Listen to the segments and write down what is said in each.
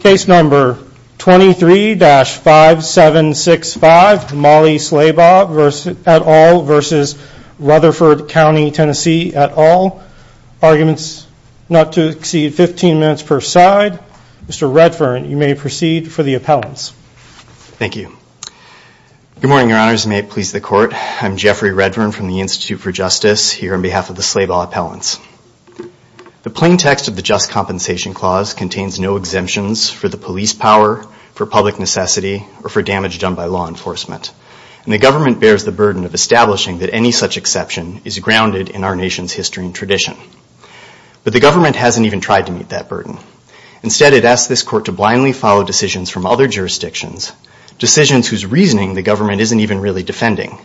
Case number 23-5765, Mollie Slaybaugh et al. versus Rutherford County TN et al. Arguments not to exceed 15 minutes per side. Mr. Redfern, you may proceed for the appellants. Thank you. Good morning, your honors. May it please the court. I'm Jeffrey Redfern from the Institute for Justice here on behalf of the Slaybaugh appellants. The plain text of the Just Compensation Clause contains no exemptions for the police power, for public necessity, or for damage done by law enforcement. And the government bears the burden of establishing that any such exception is grounded in our nation's history and tradition. But the government hasn't even tried to meet that burden. Instead it asks this court to blindly follow decisions from other jurisdictions, decisions whose reasoning the government isn't even really defending.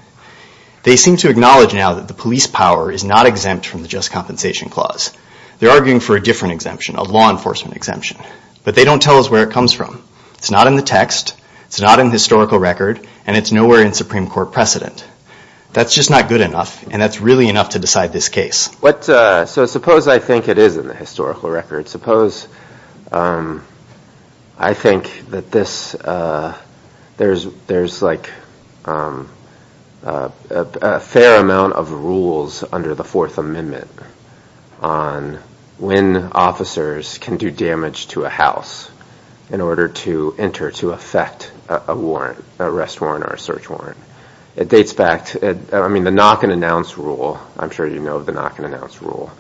They seem to acknowledge now that the police power is not exempt from the Just Compensation Clause. They're arguing for a different exemption, a law enforcement exemption. But they don't tell us where it comes from. It's not in the text, it's not in historical record, and it's nowhere in Supreme Court precedent. That's just not good enough, and that's really enough to decide this case. So suppose I think it is in the historical record. Suppose I think that there's like a fair amount of rules under the Fourth Amendment on when officers can do damage to a house in order to enter to affect a warrant, an arrest warrant or a search warrant. It dates back, I mean the knock and announce rule, I'm sure you know the knock and announce rule,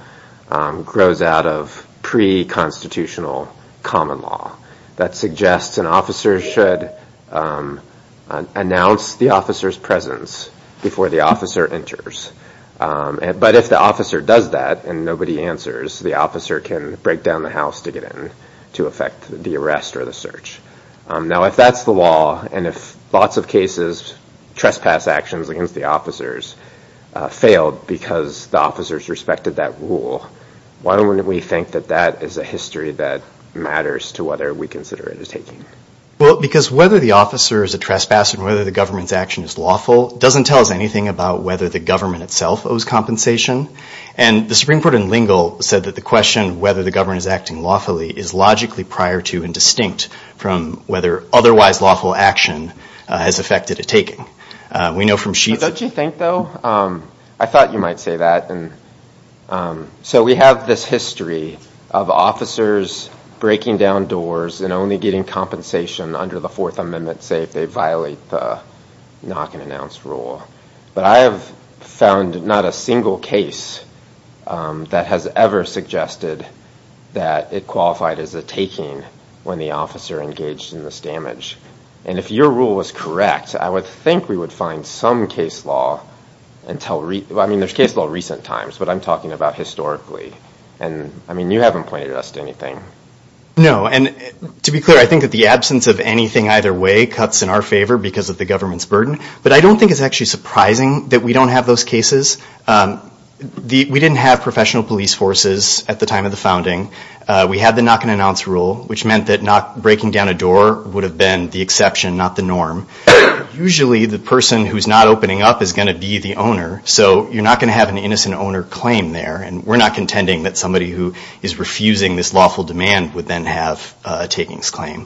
grows out of pre-constitutional common law that suggests an officer should announce the officer's presence before the officer enters. But if the officer does that and nobody answers, the officer can break down the house to get in to affect the arrest or the search. Now if that's the law and if lots of cases, trespass actions against the officers, failed because the officers respected that rule, why don't we think that that is a history that matters to whether we consider it as taking? Well because whether the officer is a trespasser and whether the government's action is lawful doesn't tell us anything about whether the government itself owes compensation. And the Supreme Court in Lingle said that the question whether the government is acting lawfully is logically prior to and distinct from whether otherwise lawful action has affected a taking. We know from sheets... Don't you think though, I thought you might say that, and so we have this history of officers breaking down doors and only getting compensation under the Fourth Amendment say if they violate the knock-and-announce rule. But I have found not a single case that has ever suggested that it qualified as a taking when the officer engaged in this damage. And if your rule was correct, I would think we would find some case law until... I mean there's case law recent times, but I'm talking about historically. And I mean you haven't pointed us to anything. No, and to be clear, I think that the absence of anything either way cuts in our favor because of the government's burden. But I don't think it's actually surprising that we don't have those cases. We didn't have professional police forces at the time of the founding. We had the knock-and-announce rule, which meant that not breaking down a door would have been the exception, not the norm. Usually the person who's not opening up is going to be the owner, so you're not going to have an innocent owner claim there. And we're not contending that somebody who is refusing this lawful demand would then have a takings claim.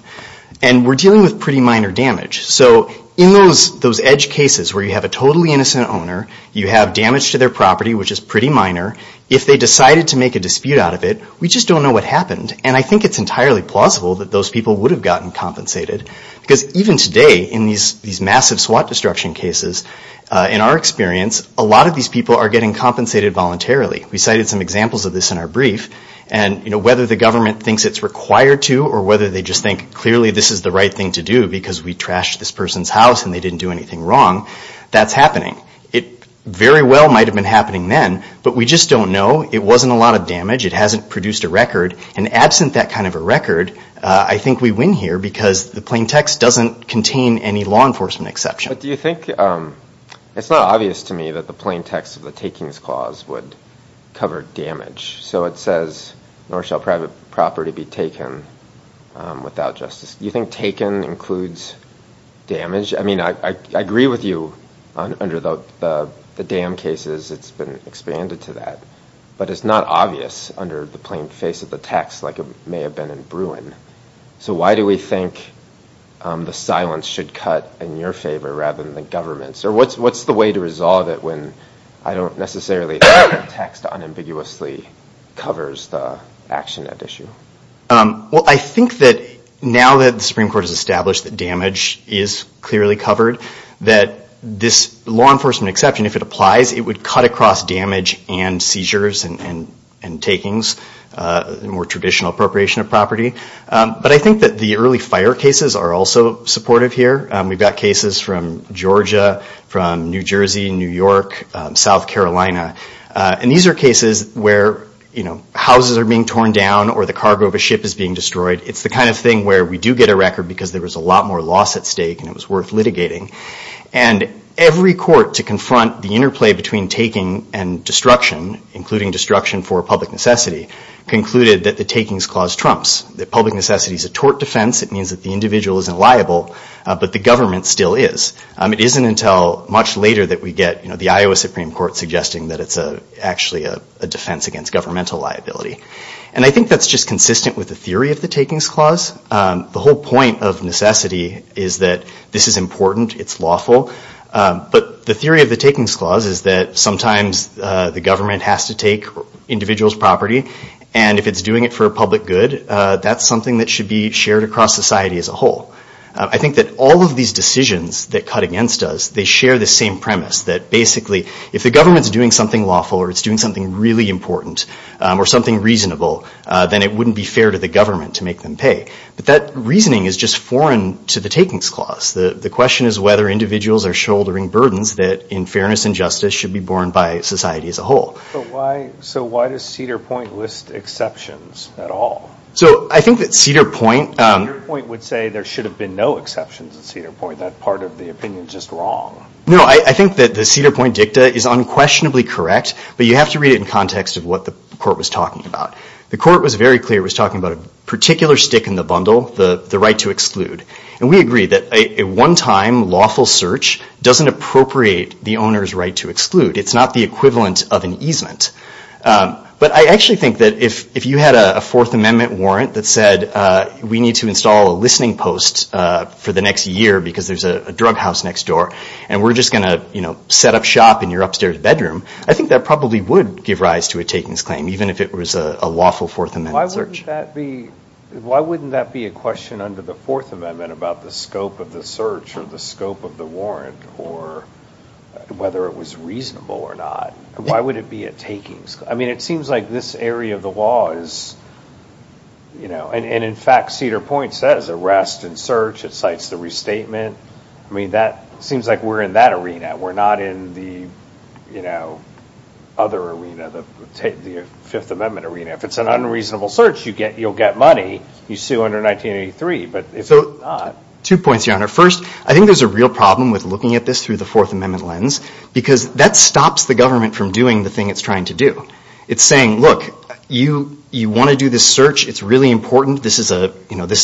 And we're dealing with pretty minor damage. So in those edge cases where you have a totally innocent owner, you have damage to their property, which is pretty minor, if they decided to make a dispute out of it, we just don't know what happened. And I think it's entirely plausible that those people would have gotten compensated because even today in these massive SWAT destruction cases, in our experience, a lot of these people are getting compensated voluntarily. We cited some examples of this in our brief. And whether the government thinks it's required to or whether they just think clearly this is the right thing to do because we trashed this person's house and they didn't do anything wrong, that's happening. It very well might have been happening then, but we just don't know. It wasn't a lot of damage. It hasn't produced a record. And absent that kind of a record, I think we win here because the plain text doesn't contain any law enforcement exception. But do you think, it's not obvious to me that the plain text of the takings clause would cover damage. So it says, nor shall private property be taken without justice. Do you think taken includes damage? I mean, I agree with you under the dam cases, it's been expanded to that. But it's not obvious under the plain face of the text like it may have been in Bruin. So why do we think the silence should cut in your favor rather than the government's? Or what's the way to resolve it when I don't necessarily think the text unambiguously covers the action at issue? Well, I think that now that the Supreme Court has established that damage is clearly covered, that this law enforcement exception, if it applies, it would cut across damage and seizures and takings, the more traditional appropriation of property. But I think that the early fire cases are also supportive here. We've got cases from Georgia, from New Jersey, New York, South Carolina. And these are cases where, you know, houses are being torn down or the cargo of a ship is being destroyed. It's the kind of thing where we do get a record because there was a lot more loss at stake and it was worth litigating. And every court to confront the interplay between taking and destruction, including destruction for public necessity, concluded that the takings clause trumps. That public necessity is a tort defense, it means that the individual isn't liable, but the government still is. It isn't until much later that we get, you know, the Iowa Supreme Court suggesting that it's a actually a defense against governmental liability. And I think that's just consistent with the theory of the takings clause. The whole point of necessity is that this is important, it's lawful, but the theory of the takings clause is that sometimes the government has to take individual's property and if it's doing it for a public good, that's something that should be shared across society as a whole. I think that all of these decisions that cut against us, they share the same premise that basically if the government's doing something lawful or it's doing something really important or something reasonable, then it wouldn't be fair to the government to make them pay. But that reasoning is just foreign to the takings clause. The question is whether individuals are shouldering burdens that, in fairness and justice, should be borne by society as a whole. So why does Cedar Point list exceptions at all? So I think that Cedar Point... Cedar Point would say there should have been no exceptions at Cedar Point. That part of the opinion is just wrong. No, I think that the Cedar Point dicta is unquestionably correct, but you have to read it in context of what the court was talking about. The court was very clear, was talking about a particular stick in the bundle, the right to exclude. And we agree that a one-time lawful search doesn't appropriate the owner's right to exclude. It's not the equivalent of an easement. But I actually think that if you had a Fourth Amendment warrant that said, we need to install a listening post for the next year because there's a drug house next door, and we're just going to set up shop in your upstairs bedroom, I think that probably would give rise to a takings claim, even if it was a lawful Fourth Amendment search. Why wouldn't that be a question under the Fourth Amendment about the scope of the search or the scope of the warrant or whether it was reasonable or not? Why would it be a takings? I mean, it seems like this area of the law is, you know, and in fact, Cedar Point says arrest and search. It cites the restatement. I mean, that seems like we're in that arena. We're not in the, you know, other arena, the Fifth Amendment arena. If it's an unreasonable search, you'll get money. You sue under 1983. Two points, Your Honor. First, I think there's a real problem with looking at this through the Fourth Amendment lens because that stops the government from doing the thing it's trying to do. It's saying, look, you want to do this search. It's really important. This is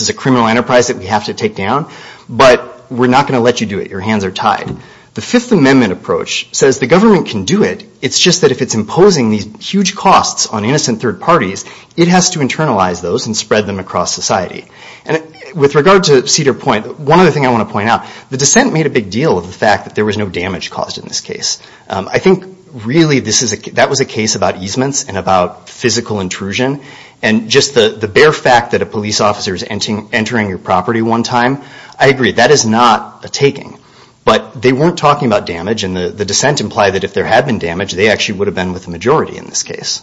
a criminal enterprise that we have to take down, but we're not going to let you do it. Your hands are tied. The Fifth Amendment approach says the government can do it. It's just that if it's imposing these huge costs on innocent third parties, it has to internalize those and spread them across society. And with regard to Cedar Point, one other thing I want to point out, the dissent made a big deal of the fact that there was no damage caused in this case. I think, really, that was a case about easements and about physical intrusion, and just the bare fact that a police officer is entering your property one time, I agree, that is not a taking. But they weren't talking about damage, and the dissent implied that if there had been damage, they actually would have been with the majority in this case.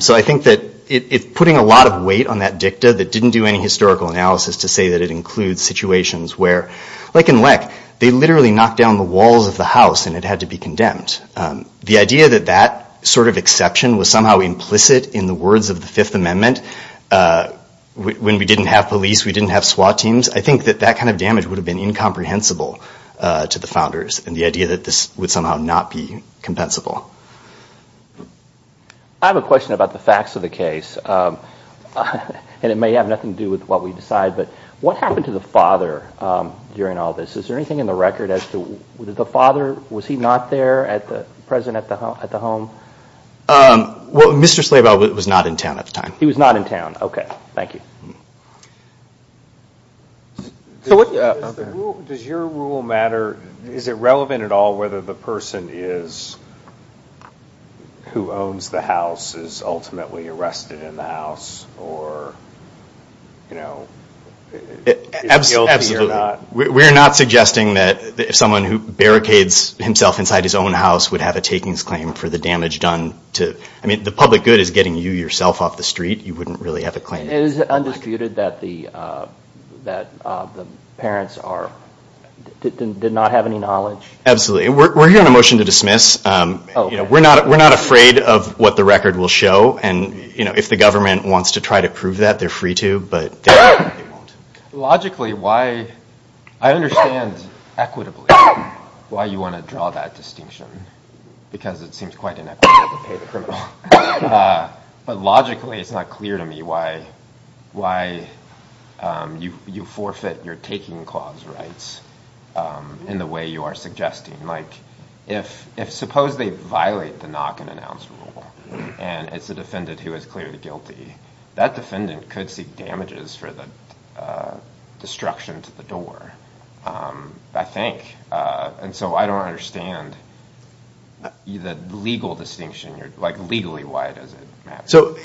So I think that putting a lot of weight on that dicta that didn't do any good, I would say that it includes situations where, like in LEC, they literally knocked down the walls of the house and it had to be condemned. The idea that that sort of exception was somehow implicit in the words of the Fifth Amendment, when we didn't have police, we didn't have SWAT teams, I think that that kind of damage would have been incomprehensible to the founders, and the idea that this would somehow not be compensable. I have a question about the facts of the case, and it may have nothing to do with what we decide, but what happened to the father during all this? Is there anything in the record as to the father, was he not there, present at the home? Mr. Slabel was not in town at the time. He was not in town. Okay. Thank you. Does your rule matter, is it relevant at all whether the person is, who owns the house, is ultimately arrested in the house, or, you know, is guilty or not? We are not suggesting that someone who barricades himself inside his own house would have a takings claim for the damage done to, I mean, the public good is getting you yourself off the street, you wouldn't really have a claim. And is it undisputed that the parents did not have any knowledge? Absolutely. We're hearing a motion to dismiss. We're not afraid of what the record will show, and, you know, if the government wants to try to prove that, they're free to, but they won't. Logically, why, I understand equitably why you want to draw that distinction, because it seems quite inequitable to pay the criminal, but logically it's not clear to me why you forfeit your taking clause rights in the way you are Suppose they violate the knock-and-announce rule, and it's a defendant who is clearly guilty. That defendant could seek damages for the destruction to the door, I think. And so I don't understand the legal distinction. Like, legally, why does it matter? So,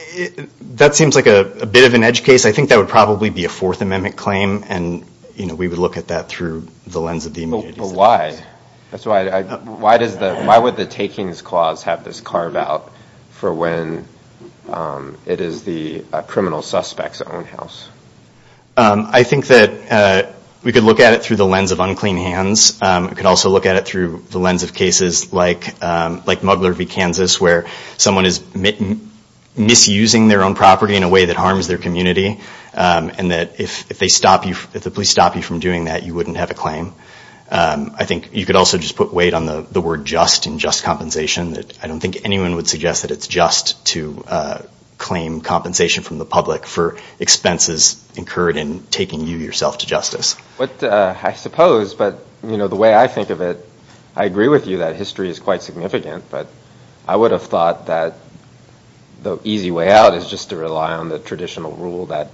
that seems like a bit of an edge case. I think that would probably be a Fourth Amendment claim, and, you know, we would look at that through the lens of the immediate existence. But why? Why would the takings clause have this carve-out for when it is the criminal suspect's own house? I think that we could look at it through the lens of unclean hands. We could also look at it through the lens of cases like Muggler v. Kansas, where someone is misusing their own property in a way that harms their community, and that if the police stop you from doing that, you wouldn't have a claim. I think you could also just put weight on the word just and just compensation. I don't think anyone would suggest that it's just to claim compensation from the public for expenses incurred in taking you, yourself, to justice. I suppose, but, you know, the way I think of it, I agree with you that history is quite significant, but I would have thought that the easy way out is just to rely on the traditional rule that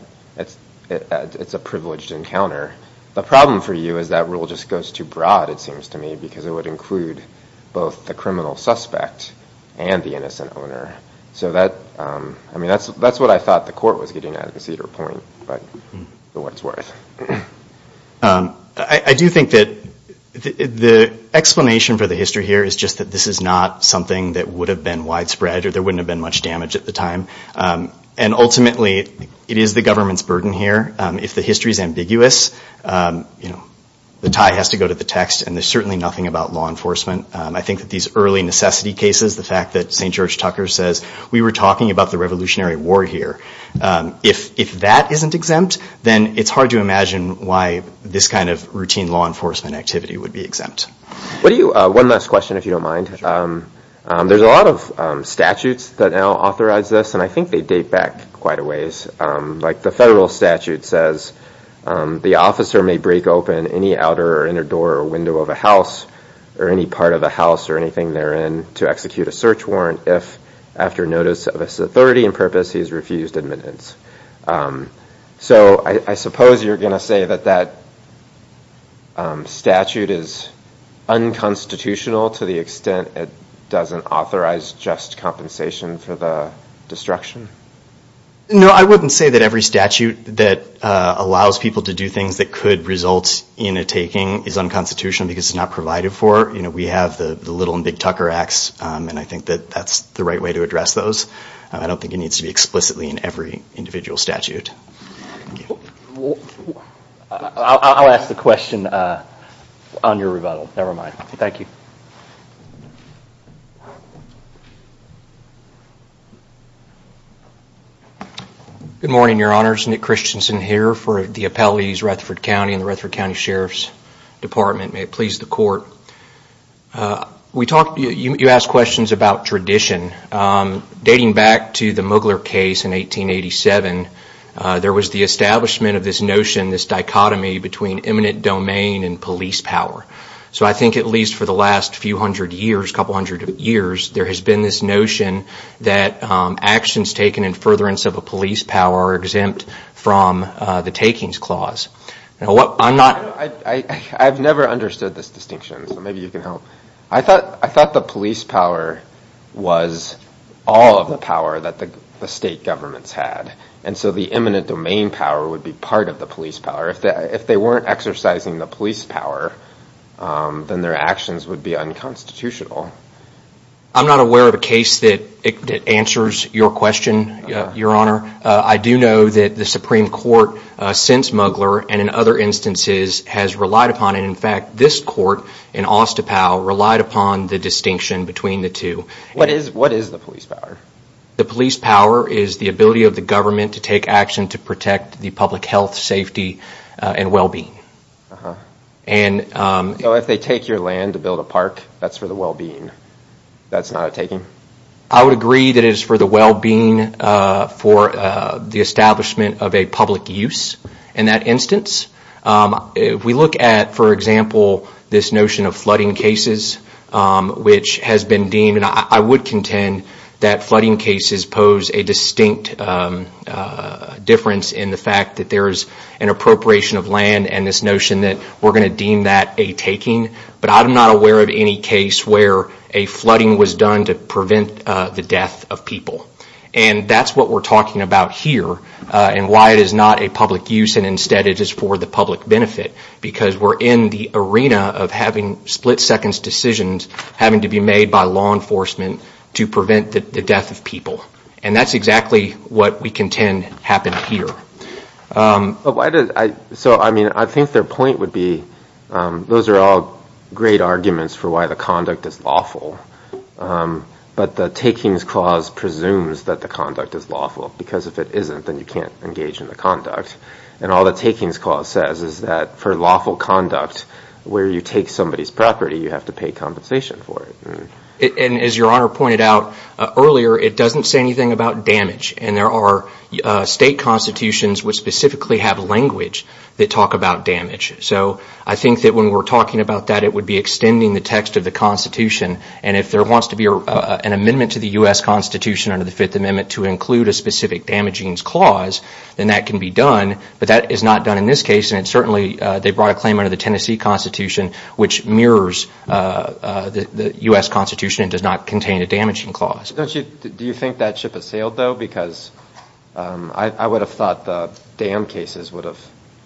it's a privileged encounter. The problem for you is that rule just goes too broad, it seems to me, because it would include both the criminal suspect and the innocent owner. So that, I mean, that's what I thought the court was getting at in Cedar Point, but for what it's worth. I do think that the explanation for the history here is just that this is not something that would have been widespread or there wouldn't have been much damage at the time. And ultimately, it is the government's burden here. If the history is ambiguous, you know, the tie has to go to the text and there's certainly nothing about law enforcement. I think that these early necessity cases, the fact that St. George Tucker says, we were talking about the Revolutionary War here. If that isn't exempt, then it's hard to imagine why this kind of routine law enforcement activity would be exempt. One last question, if you don't mind. There's a lot of statutes that now authorize this, and I think they date back quite a ways. Like the federal statute says, the officer may break open any outer or inner door or window of a house or any part of a house or anything therein to execute a search warrant if, after notice of authority and purpose, he has refused admittance. So I suppose you're going to say that that statute is unconstitutional to the extent it doesn't authorize just compensation for the destruction? No, I wouldn't say that every statute that allows people to do things that could result in a taking is unconstitutional because it's not provided for. You know, we have the Little and Big Tucker Acts, and I think that that's the right way to address those. I don't think it needs to be explicitly in every individual statute. I'll ask the question on your rebuttal. Never mind. Thank you. Good morning, Your Honors. Nick Christensen here for the Appellees, Rutherford County and the Rutherford County Sheriff's Department. May it please the Court. You asked questions about tradition. Dating back to the Mugler case in 1887, there was the establishment of this notion, this dichotomy between eminent domain and police power. So I think at least for the last few hundred years, couple hundred years, there has been a distinction and furtherance of a police power exempt from the Takings Clause. I've never understood this distinction, so maybe you can help. I thought the police power was all of the power that the state governments had, and so the eminent domain power would be part of the police power. If they weren't exercising the police power, then their actions would be unconstitutional. I'm not aware of a case that answers your question, Your Honor. I do know that the Supreme Court, since Mugler and in other instances, has relied upon it. In fact, this court in Ostapow relied upon the distinction between the two. What is the police power? The police power is the ability of the government to take action to protect the public health, safety, and well-being. So if they take your land to build a park, that's for the well-being? That's not a taking? I would agree that it is for the well-being for the establishment of a public use in that instance. If we look at, for example, this notion of flooding cases, which has been deemed, and I would contend that flooding cases pose a distinct difference in the fact that there is an appropriation of land and this notion that we're going to deem that a taking, but I'm not aware of any case where a flooding was done to prevent the death of people. That's what we're talking about here and why it is not a public use and instead it is for the public benefit because we're in the arena of having split-seconds decisions having to be made by law enforcement to prevent the death of people. And that's exactly what we contend happened here. So, I mean, I think their point would be those are all great arguments for why the conduct is lawful, but the takings clause presumes that the conduct is lawful because if it isn't, then you can't engage in the conduct. And all the takings clause says is that for lawful conduct where you take somebody's property, you have to pay compensation for it. And as your Honor pointed out earlier, it doesn't say anything about damage and there are state constitutions which specifically have language that talk about damage. So, I think that when we're talking about that, it would be extending the text of the Constitution and if there wants to be an amendment to the U.S. Constitution under the Fifth Amendment to include a specific damaging clause, then that can be done, but that is not done in this case and certainly they brought a claim under the Tennessee Constitution which mirrors the U.S. Constitution and does not contain a damaging clause. Do you think that ship has sailed though? Because I would have thought the dam cases would have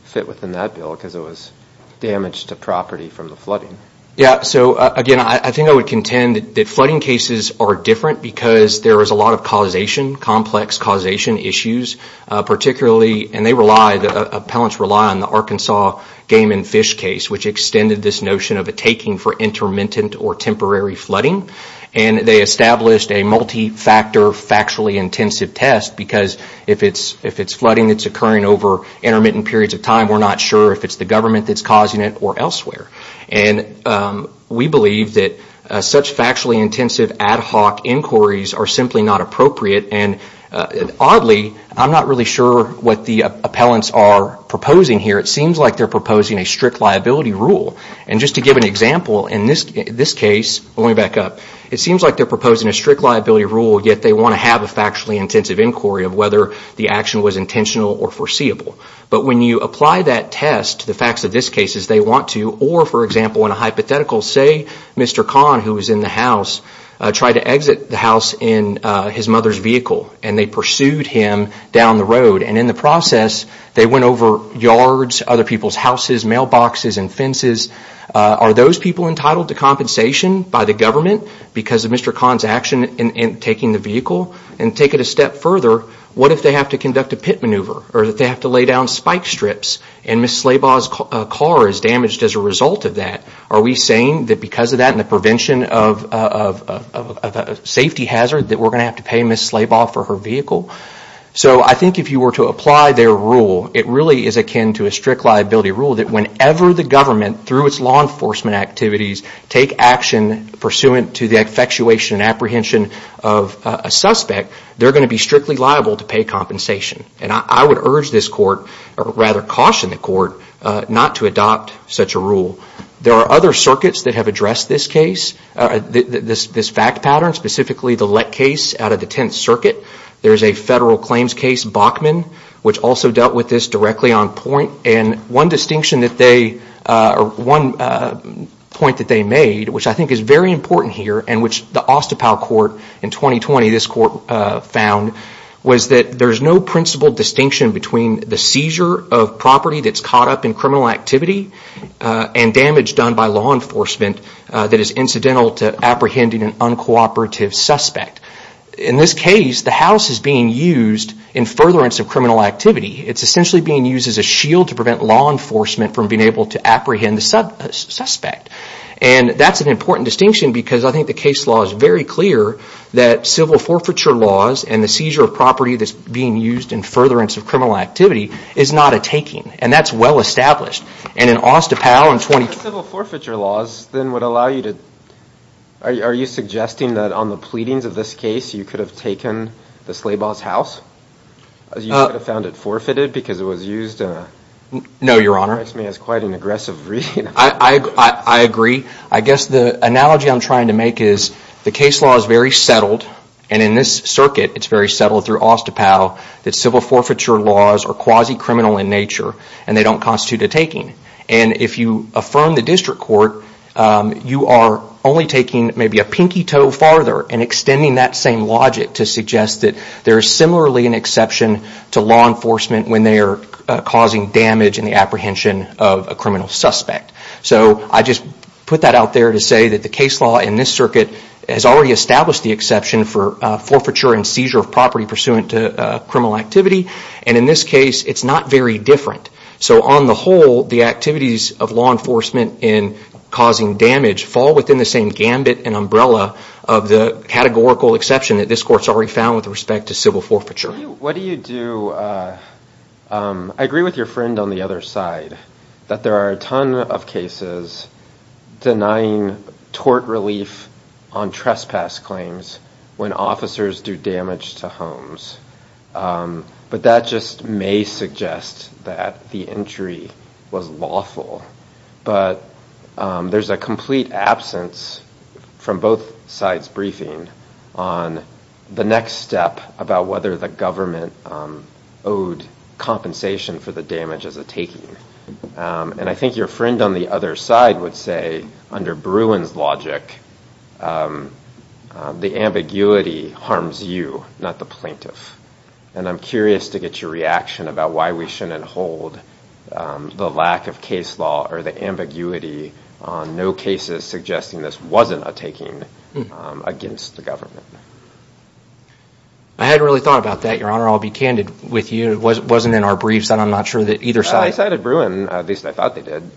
fit within that bill because it was damage to property from the flooding. Yeah, so again, I think I would contend that flooding cases are different because there is a lot of causation, complex causation issues, particularly and appellants rely on the Arkansas game and fish case which extended this notion of a taking for intermittent or temporary flooding and they established a multi-factor factually intensive test because if it's flooding that's occurring over intermittent periods of time, we're not sure if it's the government that's causing it or elsewhere. And we believe that such factually intensive ad hoc inquiries are simply not appropriate and oddly, I'm not really sure what the appellants are proposing here. It seems like they're proposing a strict liability rule. And just to give an example, in this case, let me back up, it seems like they're proposing a strict liability rule yet they want to have a factually intensive inquiry of whether the action was intentional or foreseeable. But when you apply that test, the facts of this case is they want to or, for example, in a hypothetical, say Mr. Kahn who was in the house tried to exit the house in his mother's vehicle and they pursued him down the road. And in the process, they went over yards, other people's houses, mailboxes and fences. Are those people entitled to compensation by the government because of Mr. Kahn's action in taking the vehicle? And take it a step further, what if they have to conduct a pit maneuver or that they have to lay down spike strips and Ms. Slabaugh's car is damaged as a result of that? Are we saying that because of that and the prevention of a safety hazard that we're going to have to pay Ms. Slabaugh for her vehicle? So I think if you were to apply their rule, it really is akin to a strict liability rule that whenever the government, through its law enforcement activities, take action pursuant to the effectuation and apprehension of a suspect, they're going to be strictly liable to pay compensation. And I would urge this court, or rather caution the court, not to adopt such a rule. There are other circuits that have addressed this case, this fact pattern, specifically the Lett case out of the Tenth Circuit. There's a federal claims case, Bachman, which also dealt with this directly on point. And one distinction that they, or one point that they made, which I think is very important here and which the Ostapow Court in 2020, this court found, was that there's no principal distinction between the seizure of property that's been criminal activity and damage done by law enforcement that is incidental to apprehending an uncooperative suspect. In this case, the house is being used in furtherance of criminal activity. It's essentially being used as a shield to prevent law enforcement from being able to apprehend the suspect. And that's an important distinction because I think the case law is very clear that civil forfeiture laws and the seizure of property that's being used in furtherance of criminal activity is not a taking. And that's well established. And in Ostapow in 2020... Civil forfeiture laws then would allow you to... Are you suggesting that on the pleadings of this case you could have taken the Slabaw's house? You could have found it forfeited because it was used... No, Your Honor. It strikes me as quite an aggressive reading. I agree. I guess the analogy I'm trying to make is the case law is very settled and in this circuit it's very settled through Ostapow that civil forfeiture laws are quasi-criminal in nature and they don't constitute a taking. And if you affirm the district court, you are only taking maybe a pinky toe farther and extending that same logic to suggest that there is similarly an exception to law enforcement when they are causing damage in the apprehension of a criminal suspect. So I just put that out there to say that the case law in this circuit has already established the exception for forfeiture and seizure of property pursuant to criminal activity. And in this case, it's not very different. So on the whole, the activities of law enforcement in causing damage fall within the same gambit and umbrella of the categorical exception that this court's already found with respect to civil forfeiture. What do you do... I agree with your friend on the other side that there are a ton of cases denying tort relief on trespass claims when officers do damage to homes. But that just may suggest that the entry was lawful. But there's a complete absence from both sides' briefing on the next step about whether the government owed compensation for the damage as a taking. And I think your friend on the other side would say, under Bruin's logic, the ambiguity harms you, not the plaintiff. And I'm curious to get your reaction about why we shouldn't hold the lack of case law or the ambiguity on no cases suggesting this wasn't a taking against the government. I hadn't really thought about that, Your Honor. I'll be candid with you. It wasn't in our briefs, and I'm not sure that either side... I cited Bruin. At least I thought they did.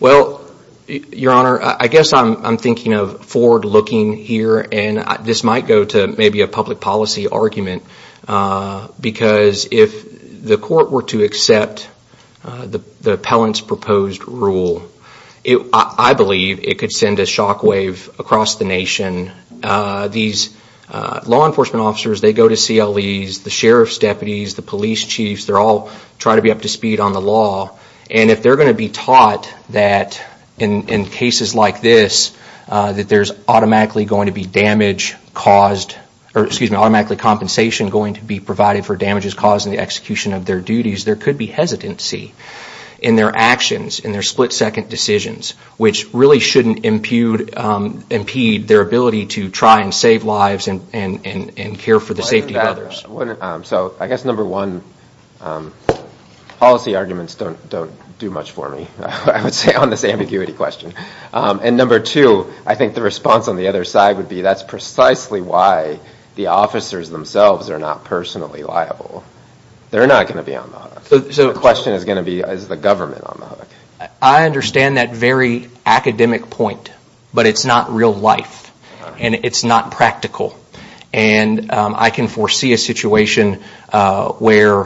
Well, Your Honor, I guess I'm thinking of forward-looking here, and this might go to maybe a public policy argument, because if the court were to accept the appellant's proposed rule, I believe it could send a shockwave across the nation. These law enforcement officers, they go to CLEs, the sheriff's deputies, the police chiefs, they all try to be up to speed on the law. And if they're going to be taught that, in cases like this, that there's automatically going to be compensation going to be provided for damages caused in the execution of their duties, there could be hesitancy in their actions, in their split-second decisions, which really shouldn't impede their ability to try and save lives and care for the safety of others. So I guess, number one, policy arguments don't do much for me, I would say, on this ambiguity question. And number two, I think the response on the other side would be that's precisely why the officers themselves are not personally liable. They're not going to be on the hook. So the question is going to be, is the government on the hook? I understand that very academic point, but it's not real life, and it's not practical. And I can foresee a situation where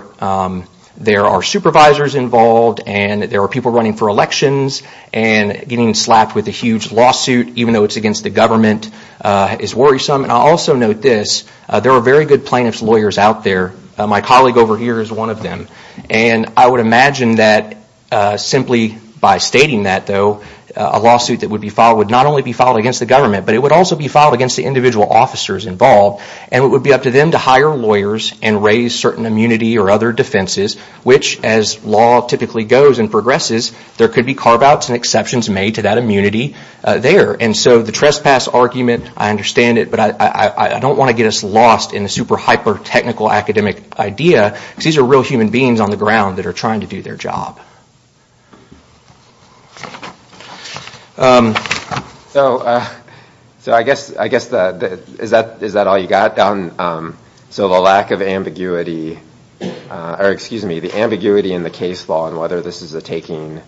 there are supervisors involved and there are people running for elections, and getting slapped with a huge lawsuit, even though it's against the government, is worrisome. And I'll also note this, there are very good plaintiff's lawyers out there. My colleague over here is one of them. And I would imagine that simply by stating that, though, a lawsuit that would be filed would not only be filed against the government, but it would also be filed against the individual officers involved. And it would be up to them to hire lawyers and raise certain immunity or other defenses, which, as law typically goes and progresses, there could be carve-outs and exceptions made to that immunity there. And so the trespass argument, I understand it, but I don't want to get us lost in a super hyper-technical academic idea, because these are real human beings on the ground that are trying to do their job. So I guess, is that all you got? So the lack of ambiguity, or excuse me, the ambiguity in the case law and whether this is a taking,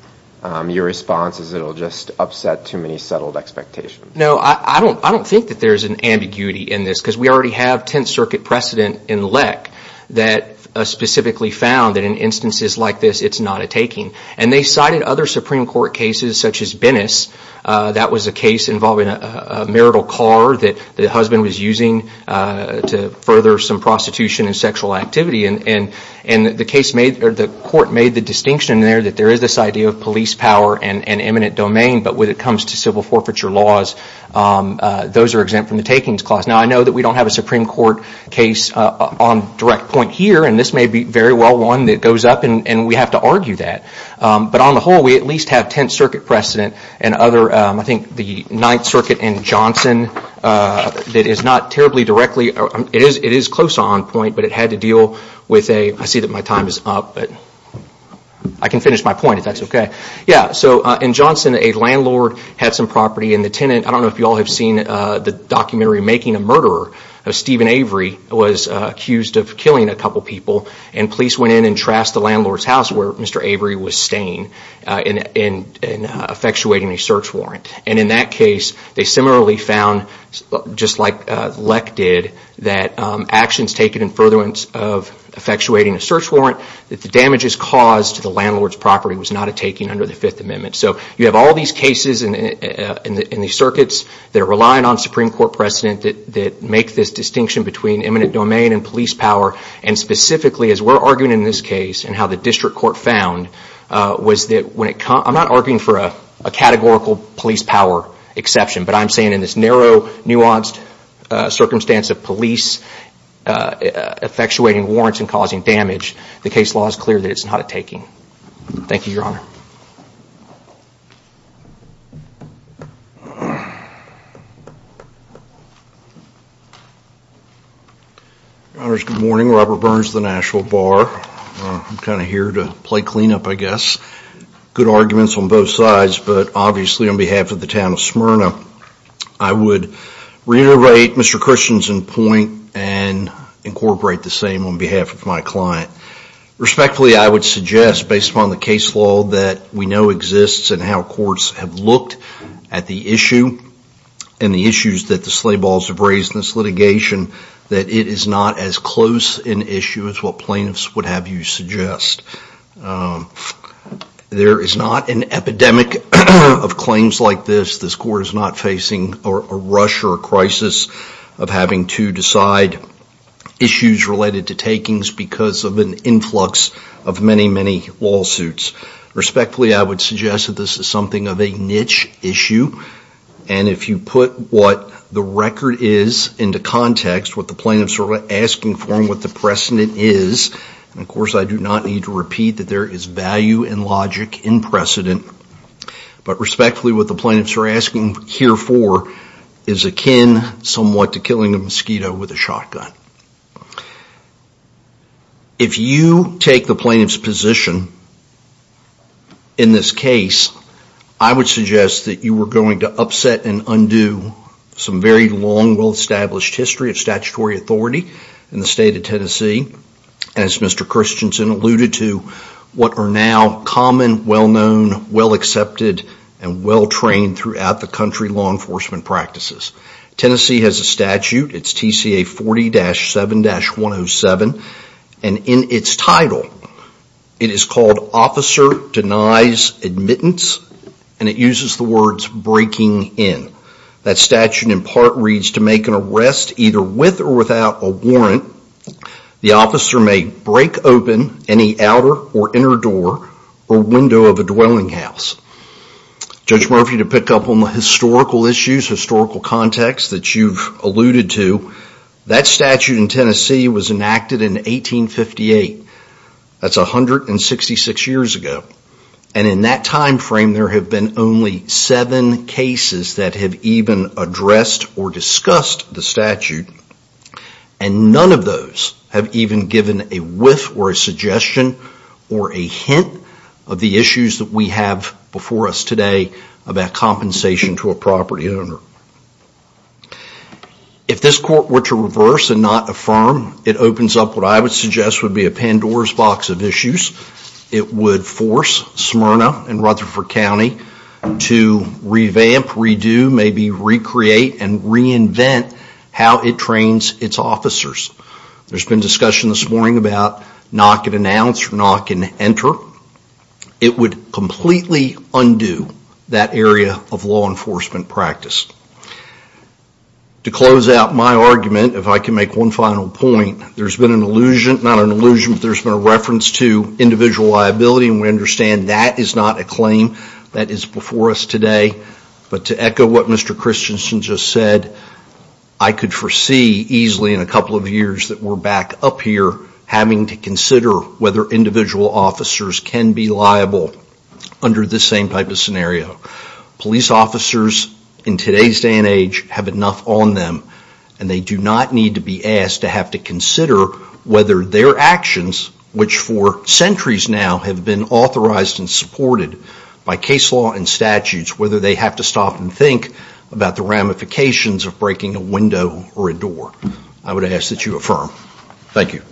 your response is it will just upset too many settled expectations. No, I don't think that there's an ambiguity in this, because we already have Tenth Circuit precedent in LEC that specifically found that in instances like this, it's not a taking. And they cited other Supreme Court cases such as Bennis. That was a case involving a marital car that the husband was using to further some prostitution and sexual activity. And the court made the distinction there that there is this idea of police power and eminent domain, but when it comes to civil forfeiture laws, those are exempt from the takings clause. Now, I know that we don't have a Supreme Court case on direct point here, and this may be very well one that goes up, and we have to argue that. But on the whole, we at least have Tenth Circuit precedent, and other, I think the Ninth Circuit in Johnson, that is not terribly directly, it is close on point, but it had to deal with a, I see that my time is up, but I can finish my point if that's okay. Yeah, so in Johnson, a landlord had some property, and the tenant, I don't know if you all have seen the documentary Making a Murderer, Stephen Avery was accused of killing a couple people, and police went in and trashed the landlord's house, where Mr. Avery was staying, and effectuating a search warrant. And in that case, they similarly found, just like Leck did, that actions taken in furtherance of effectuating a search warrant, that the damages caused to the landlord's property was not a taking under the Fifth Amendment. So you have all these cases in the circuits that are relying on Supreme Court precedent that make this distinction between eminent domain and police power, and specifically, as we're arguing in this case, and how the district court found, was that when it comes, I'm not arguing for a categorical police power exception, but I'm saying in this narrow, nuanced circumstance of police effectuating warrants and causing damage, the case law is clear that it's not a taking. Thank you, Your Honor. Your Honor, good morning. Robert Burns, the Nashville Bar. I'm kind of here to play clean up, I guess. Good arguments on both sides, but obviously on behalf of the town of Smyrna, I would reiterate Mr. Christianson's point, and incorporate the same on behalf of my client. Respectfully, I would suggest, based upon the case law that we know exists and how courts have looked at the issue, and the issues that the sleigh balls have raised in this litigation, that it is not as close an issue as what plaintiffs would have you suggest. There is not an epidemic of claims like this. This court is not facing a rush or a crisis of having to decide issues related to takings because of an influx of many, many lawsuits. Respectfully, I would suggest that this is something of a niche issue, and if you put what the record is into context, what the plaintiffs are asking for and what the precedent is, and of course I do not need to repeat that there is value and logic in precedent, but respectfully what the plaintiffs are asking here for is akin somewhat to If you take the plaintiff's position in this case, I would suggest that you were going to upset and undo some very long, well-established history of statutory authority in the state of Tennessee. As Mr. Christianson alluded to, what are now common, well-known, well-accepted, and well-trained throughout the country law enforcement practices. Tennessee has a statute, it's TCA 40-7-107, and in its title it is called Officer Denies Admittance, and it uses the words breaking in. That statute in part reads to make an arrest either with or without a warrant. The officer may break open any outer or inner door or window of a dwelling house. Judge Murphy, to pick up on the historical issues, historical context that you've alluded to, that statute in Tennessee was enacted in 1858. That's 166 years ago, and in that time frame there have been only seven cases that have even addressed or discussed the statute, and none of those have even given a whiff or a suggestion or a hint of the issues that we have before us today about compensation to a property owner. If this court were to reverse and not affirm, it opens up what I would suggest would be a Pandora's box of issues. It would force Smyrna and Rutherford County to revamp, redo, maybe recreate, and reinvent how it trains its officers. There's been discussion this morning about knock and announce or knock and enter. It would completely undo that area of law enforcement practice. To close out my argument, if I can make one final point, there's been an allusion, not an allusion, but there's been a reference to individual liability, and we understand that is not a claim that is before us today. But to echo what Mr. Christensen just said, I could foresee easily in a couple of years that we're back up here having to consider whether individual officers can be liable under this same type of scenario. Police officers in today's day and age have enough on them, and they do not need to be asked to have to consider whether their actions, which for centuries now have been authorized and supported by case law and statutes, whether they have to stop and think about the ramifications of breaking a window or a door. I would ask that you affirm. Thank you.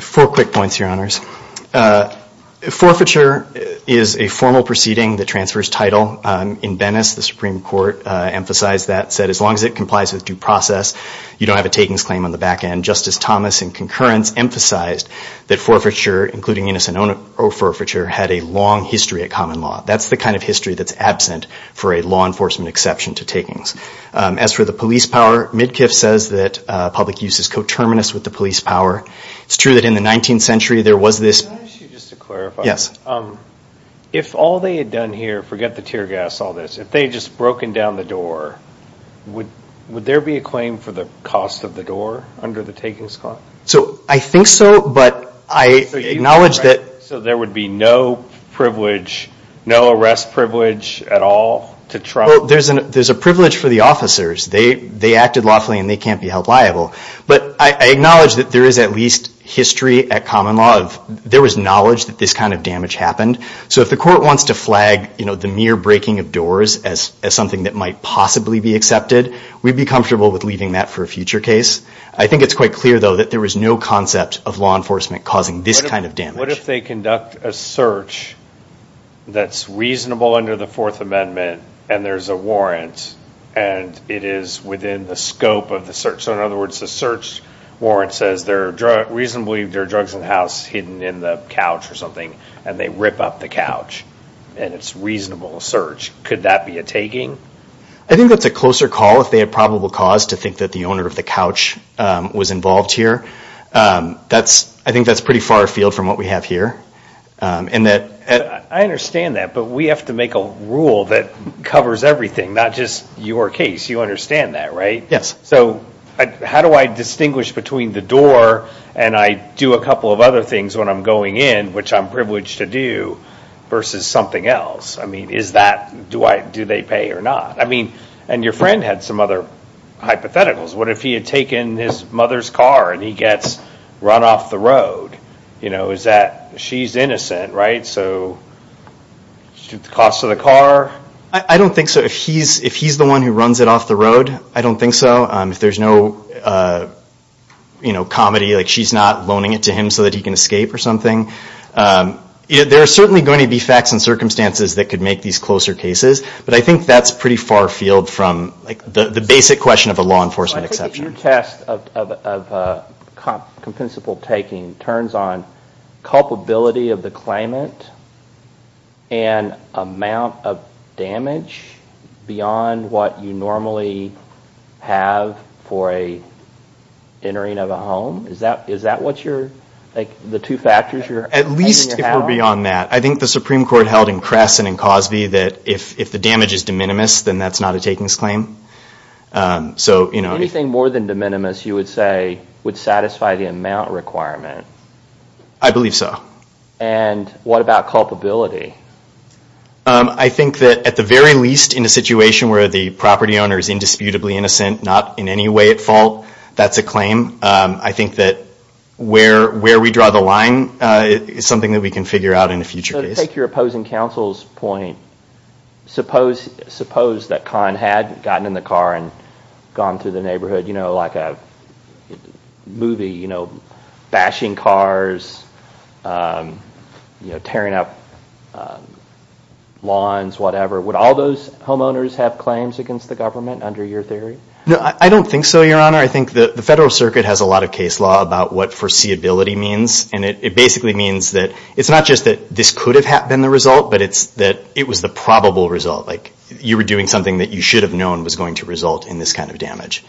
Four quick points, Your Honors. Forfeiture is a formal proceeding that transfers title. In Venice, the Supreme Court emphasized that, said as long as it complies with due process, you don't have a takings claim on the back end. Justice Thomas in concurrence emphasized that forfeiture, including innocent owner forfeiture, had a long history at common law. That's the kind of history that's absent for a law enforcement exception to takings. As for the police power, Midkiff says that public use is coterminous with the police power. It's true that in the 19th century there was this. Can I ask you just to clarify? Yes. If all they had done here, forget the tear gas, all this, if they had just broken down the door, would there be a claim for the cost of the door under the takings clause? I think so, but I acknowledge that. So there would be no arrest privilege at all to try? There's a privilege for the officers. They acted lawfully, and they can't be held liable. But I acknowledge that there is at least history at common law. There was knowledge that this kind of damage happened. So if the court wants to flag the mere breaking of doors as something that might possibly be accepted, we'd be comfortable with leaving that for a future case. I think it's quite clear, though, that there was no concept of law enforcement causing this kind of damage. What if they conduct a search that's reasonable under the Fourth Amendment, and there's a warrant, and it is within the scope of the search? So in other words, the search warrant says reasonably there are drugs in the house hidden in the couch or something, and they rip up the couch, and it's a reasonable search. Could that be a taking? I think that's a closer call if they had probable cause to think that the owner of the couch was involved here. I think that's pretty far afield from what we have here. I understand that, but we have to make a rule that covers everything, not just your case. You understand that, right? Yes. So how do I distinguish between the door, and I do a couple of other things when I'm going in, which I'm privileged to do, versus something else? I mean, do they pay or not? I mean, and your friend had some other hypotheticals. What if he had taken his mother's car, and he gets run off the road? Is that she's innocent, right? So the cost of the car? I don't think so. If he's the one who runs it off the road, I don't think so. If there's no comedy, like she's not loaning it to him so that he can escape or something. There are certainly going to be facts and circumstances that could make these closer cases, but I think that's pretty far afield from the basic question of a law enforcement exception. Your test of compensable taking turns on culpability of the claimant and amount of damage beyond what you normally have for a entering of a home. Is that what you're, like the two factors you're having to have? At least if we're beyond that. I think the Supreme Court held in Kress and in Cosby that if the damage is de minimis, then that's not a takings claim. Anything more than de minimis, you would say, would satisfy the amount requirement? I believe so. And what about culpability? I think that at the very least in a situation where the property owner is indisputably innocent, not in any way at fault, that's a claim. I think that where we draw the line is something that we can figure out in a future case. So to take your opposing counsel's point, suppose that Conn had gotten in the car and gone through the neighborhood, like a movie, bashing cars, tearing up lawns, whatever. Would all those homeowners have claims against the government under your theory? I don't think so, Your Honor. I think the Federal Circuit has a lot of case law about what foreseeability means, and it basically means that it's not just that this could have been the result, but it's that it was the probable result. Like you were doing something that you should have known was going to result in this kind of damage.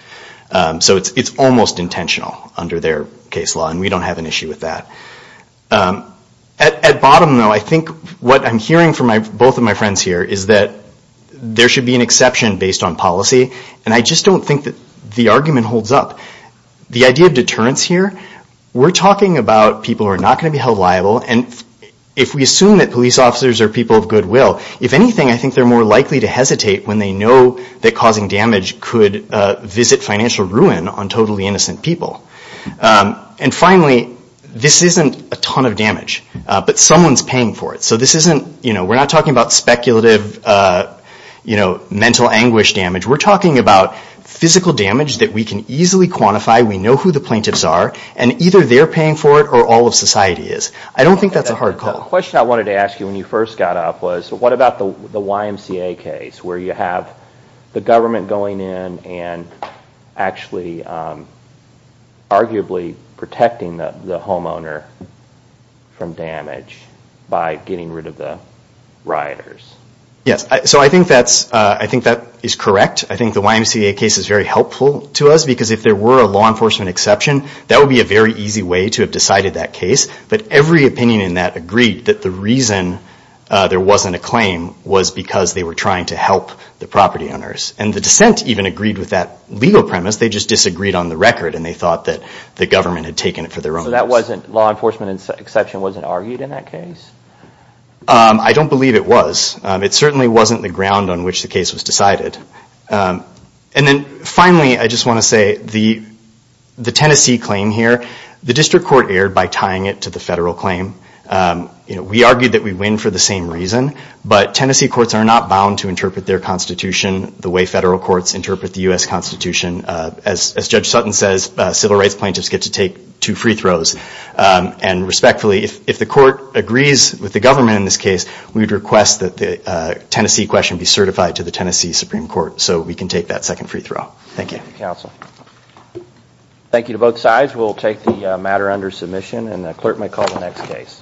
So it's almost intentional under their case law, and we don't have an issue with that. At bottom, though, I think what I'm hearing from both of my friends here is that there should be an exception based on policy, and I just don't think that the argument holds up. The idea of deterrence here, we're talking about people who are not going to be held liable, and if we assume that police officers are people of goodwill, if anything, I think they're more likely to hesitate when they know that causing damage could visit financial ruin on totally innocent people. And finally, this isn't a ton of damage, but someone's paying for it. So this isn't, you know, we're not talking about speculative, you know, mental anguish damage. We're talking about physical damage that we can easily quantify. We know who the plaintiffs are, and either they're paying for it or all of society is. I don't think that's a hard call. The question I wanted to ask you when you first got up was, what about the YMCA case where you have the government going in and actually arguably protecting the homeowner from damage by getting rid of the rioters? Yes, so I think that's, I think that is correct. I think the YMCA case is very helpful to us because if there were a law enforcement exception, that would be a very easy way to have decided that case. But every opinion in that agreed that the reason there wasn't a claim was because they were trying to help the property owners. And the dissent even agreed with that legal premise. They just disagreed on the record, and they thought that the government had taken it for their own. So that wasn't, law enforcement exception wasn't argued in that case? I don't believe it was. It certainly wasn't the ground on which the case was decided. And then finally, I just want to say the Tennessee claim here, the district court erred by tying it to the federal claim. We argued that we win for the same reason, but Tennessee courts are not bound to interpret their constitution the way federal courts interpret the U.S. Constitution. As Judge Sutton says, civil rights plaintiffs get to take two free throws. And respectfully, if the court agrees with the government in this case, we would request that the Tennessee question be certified to the Tennessee Supreme Court so we can take that second free throw. Thank you. Thank you, counsel. Thank you to both sides. We'll take the matter under submission, and the clerk may call the next case.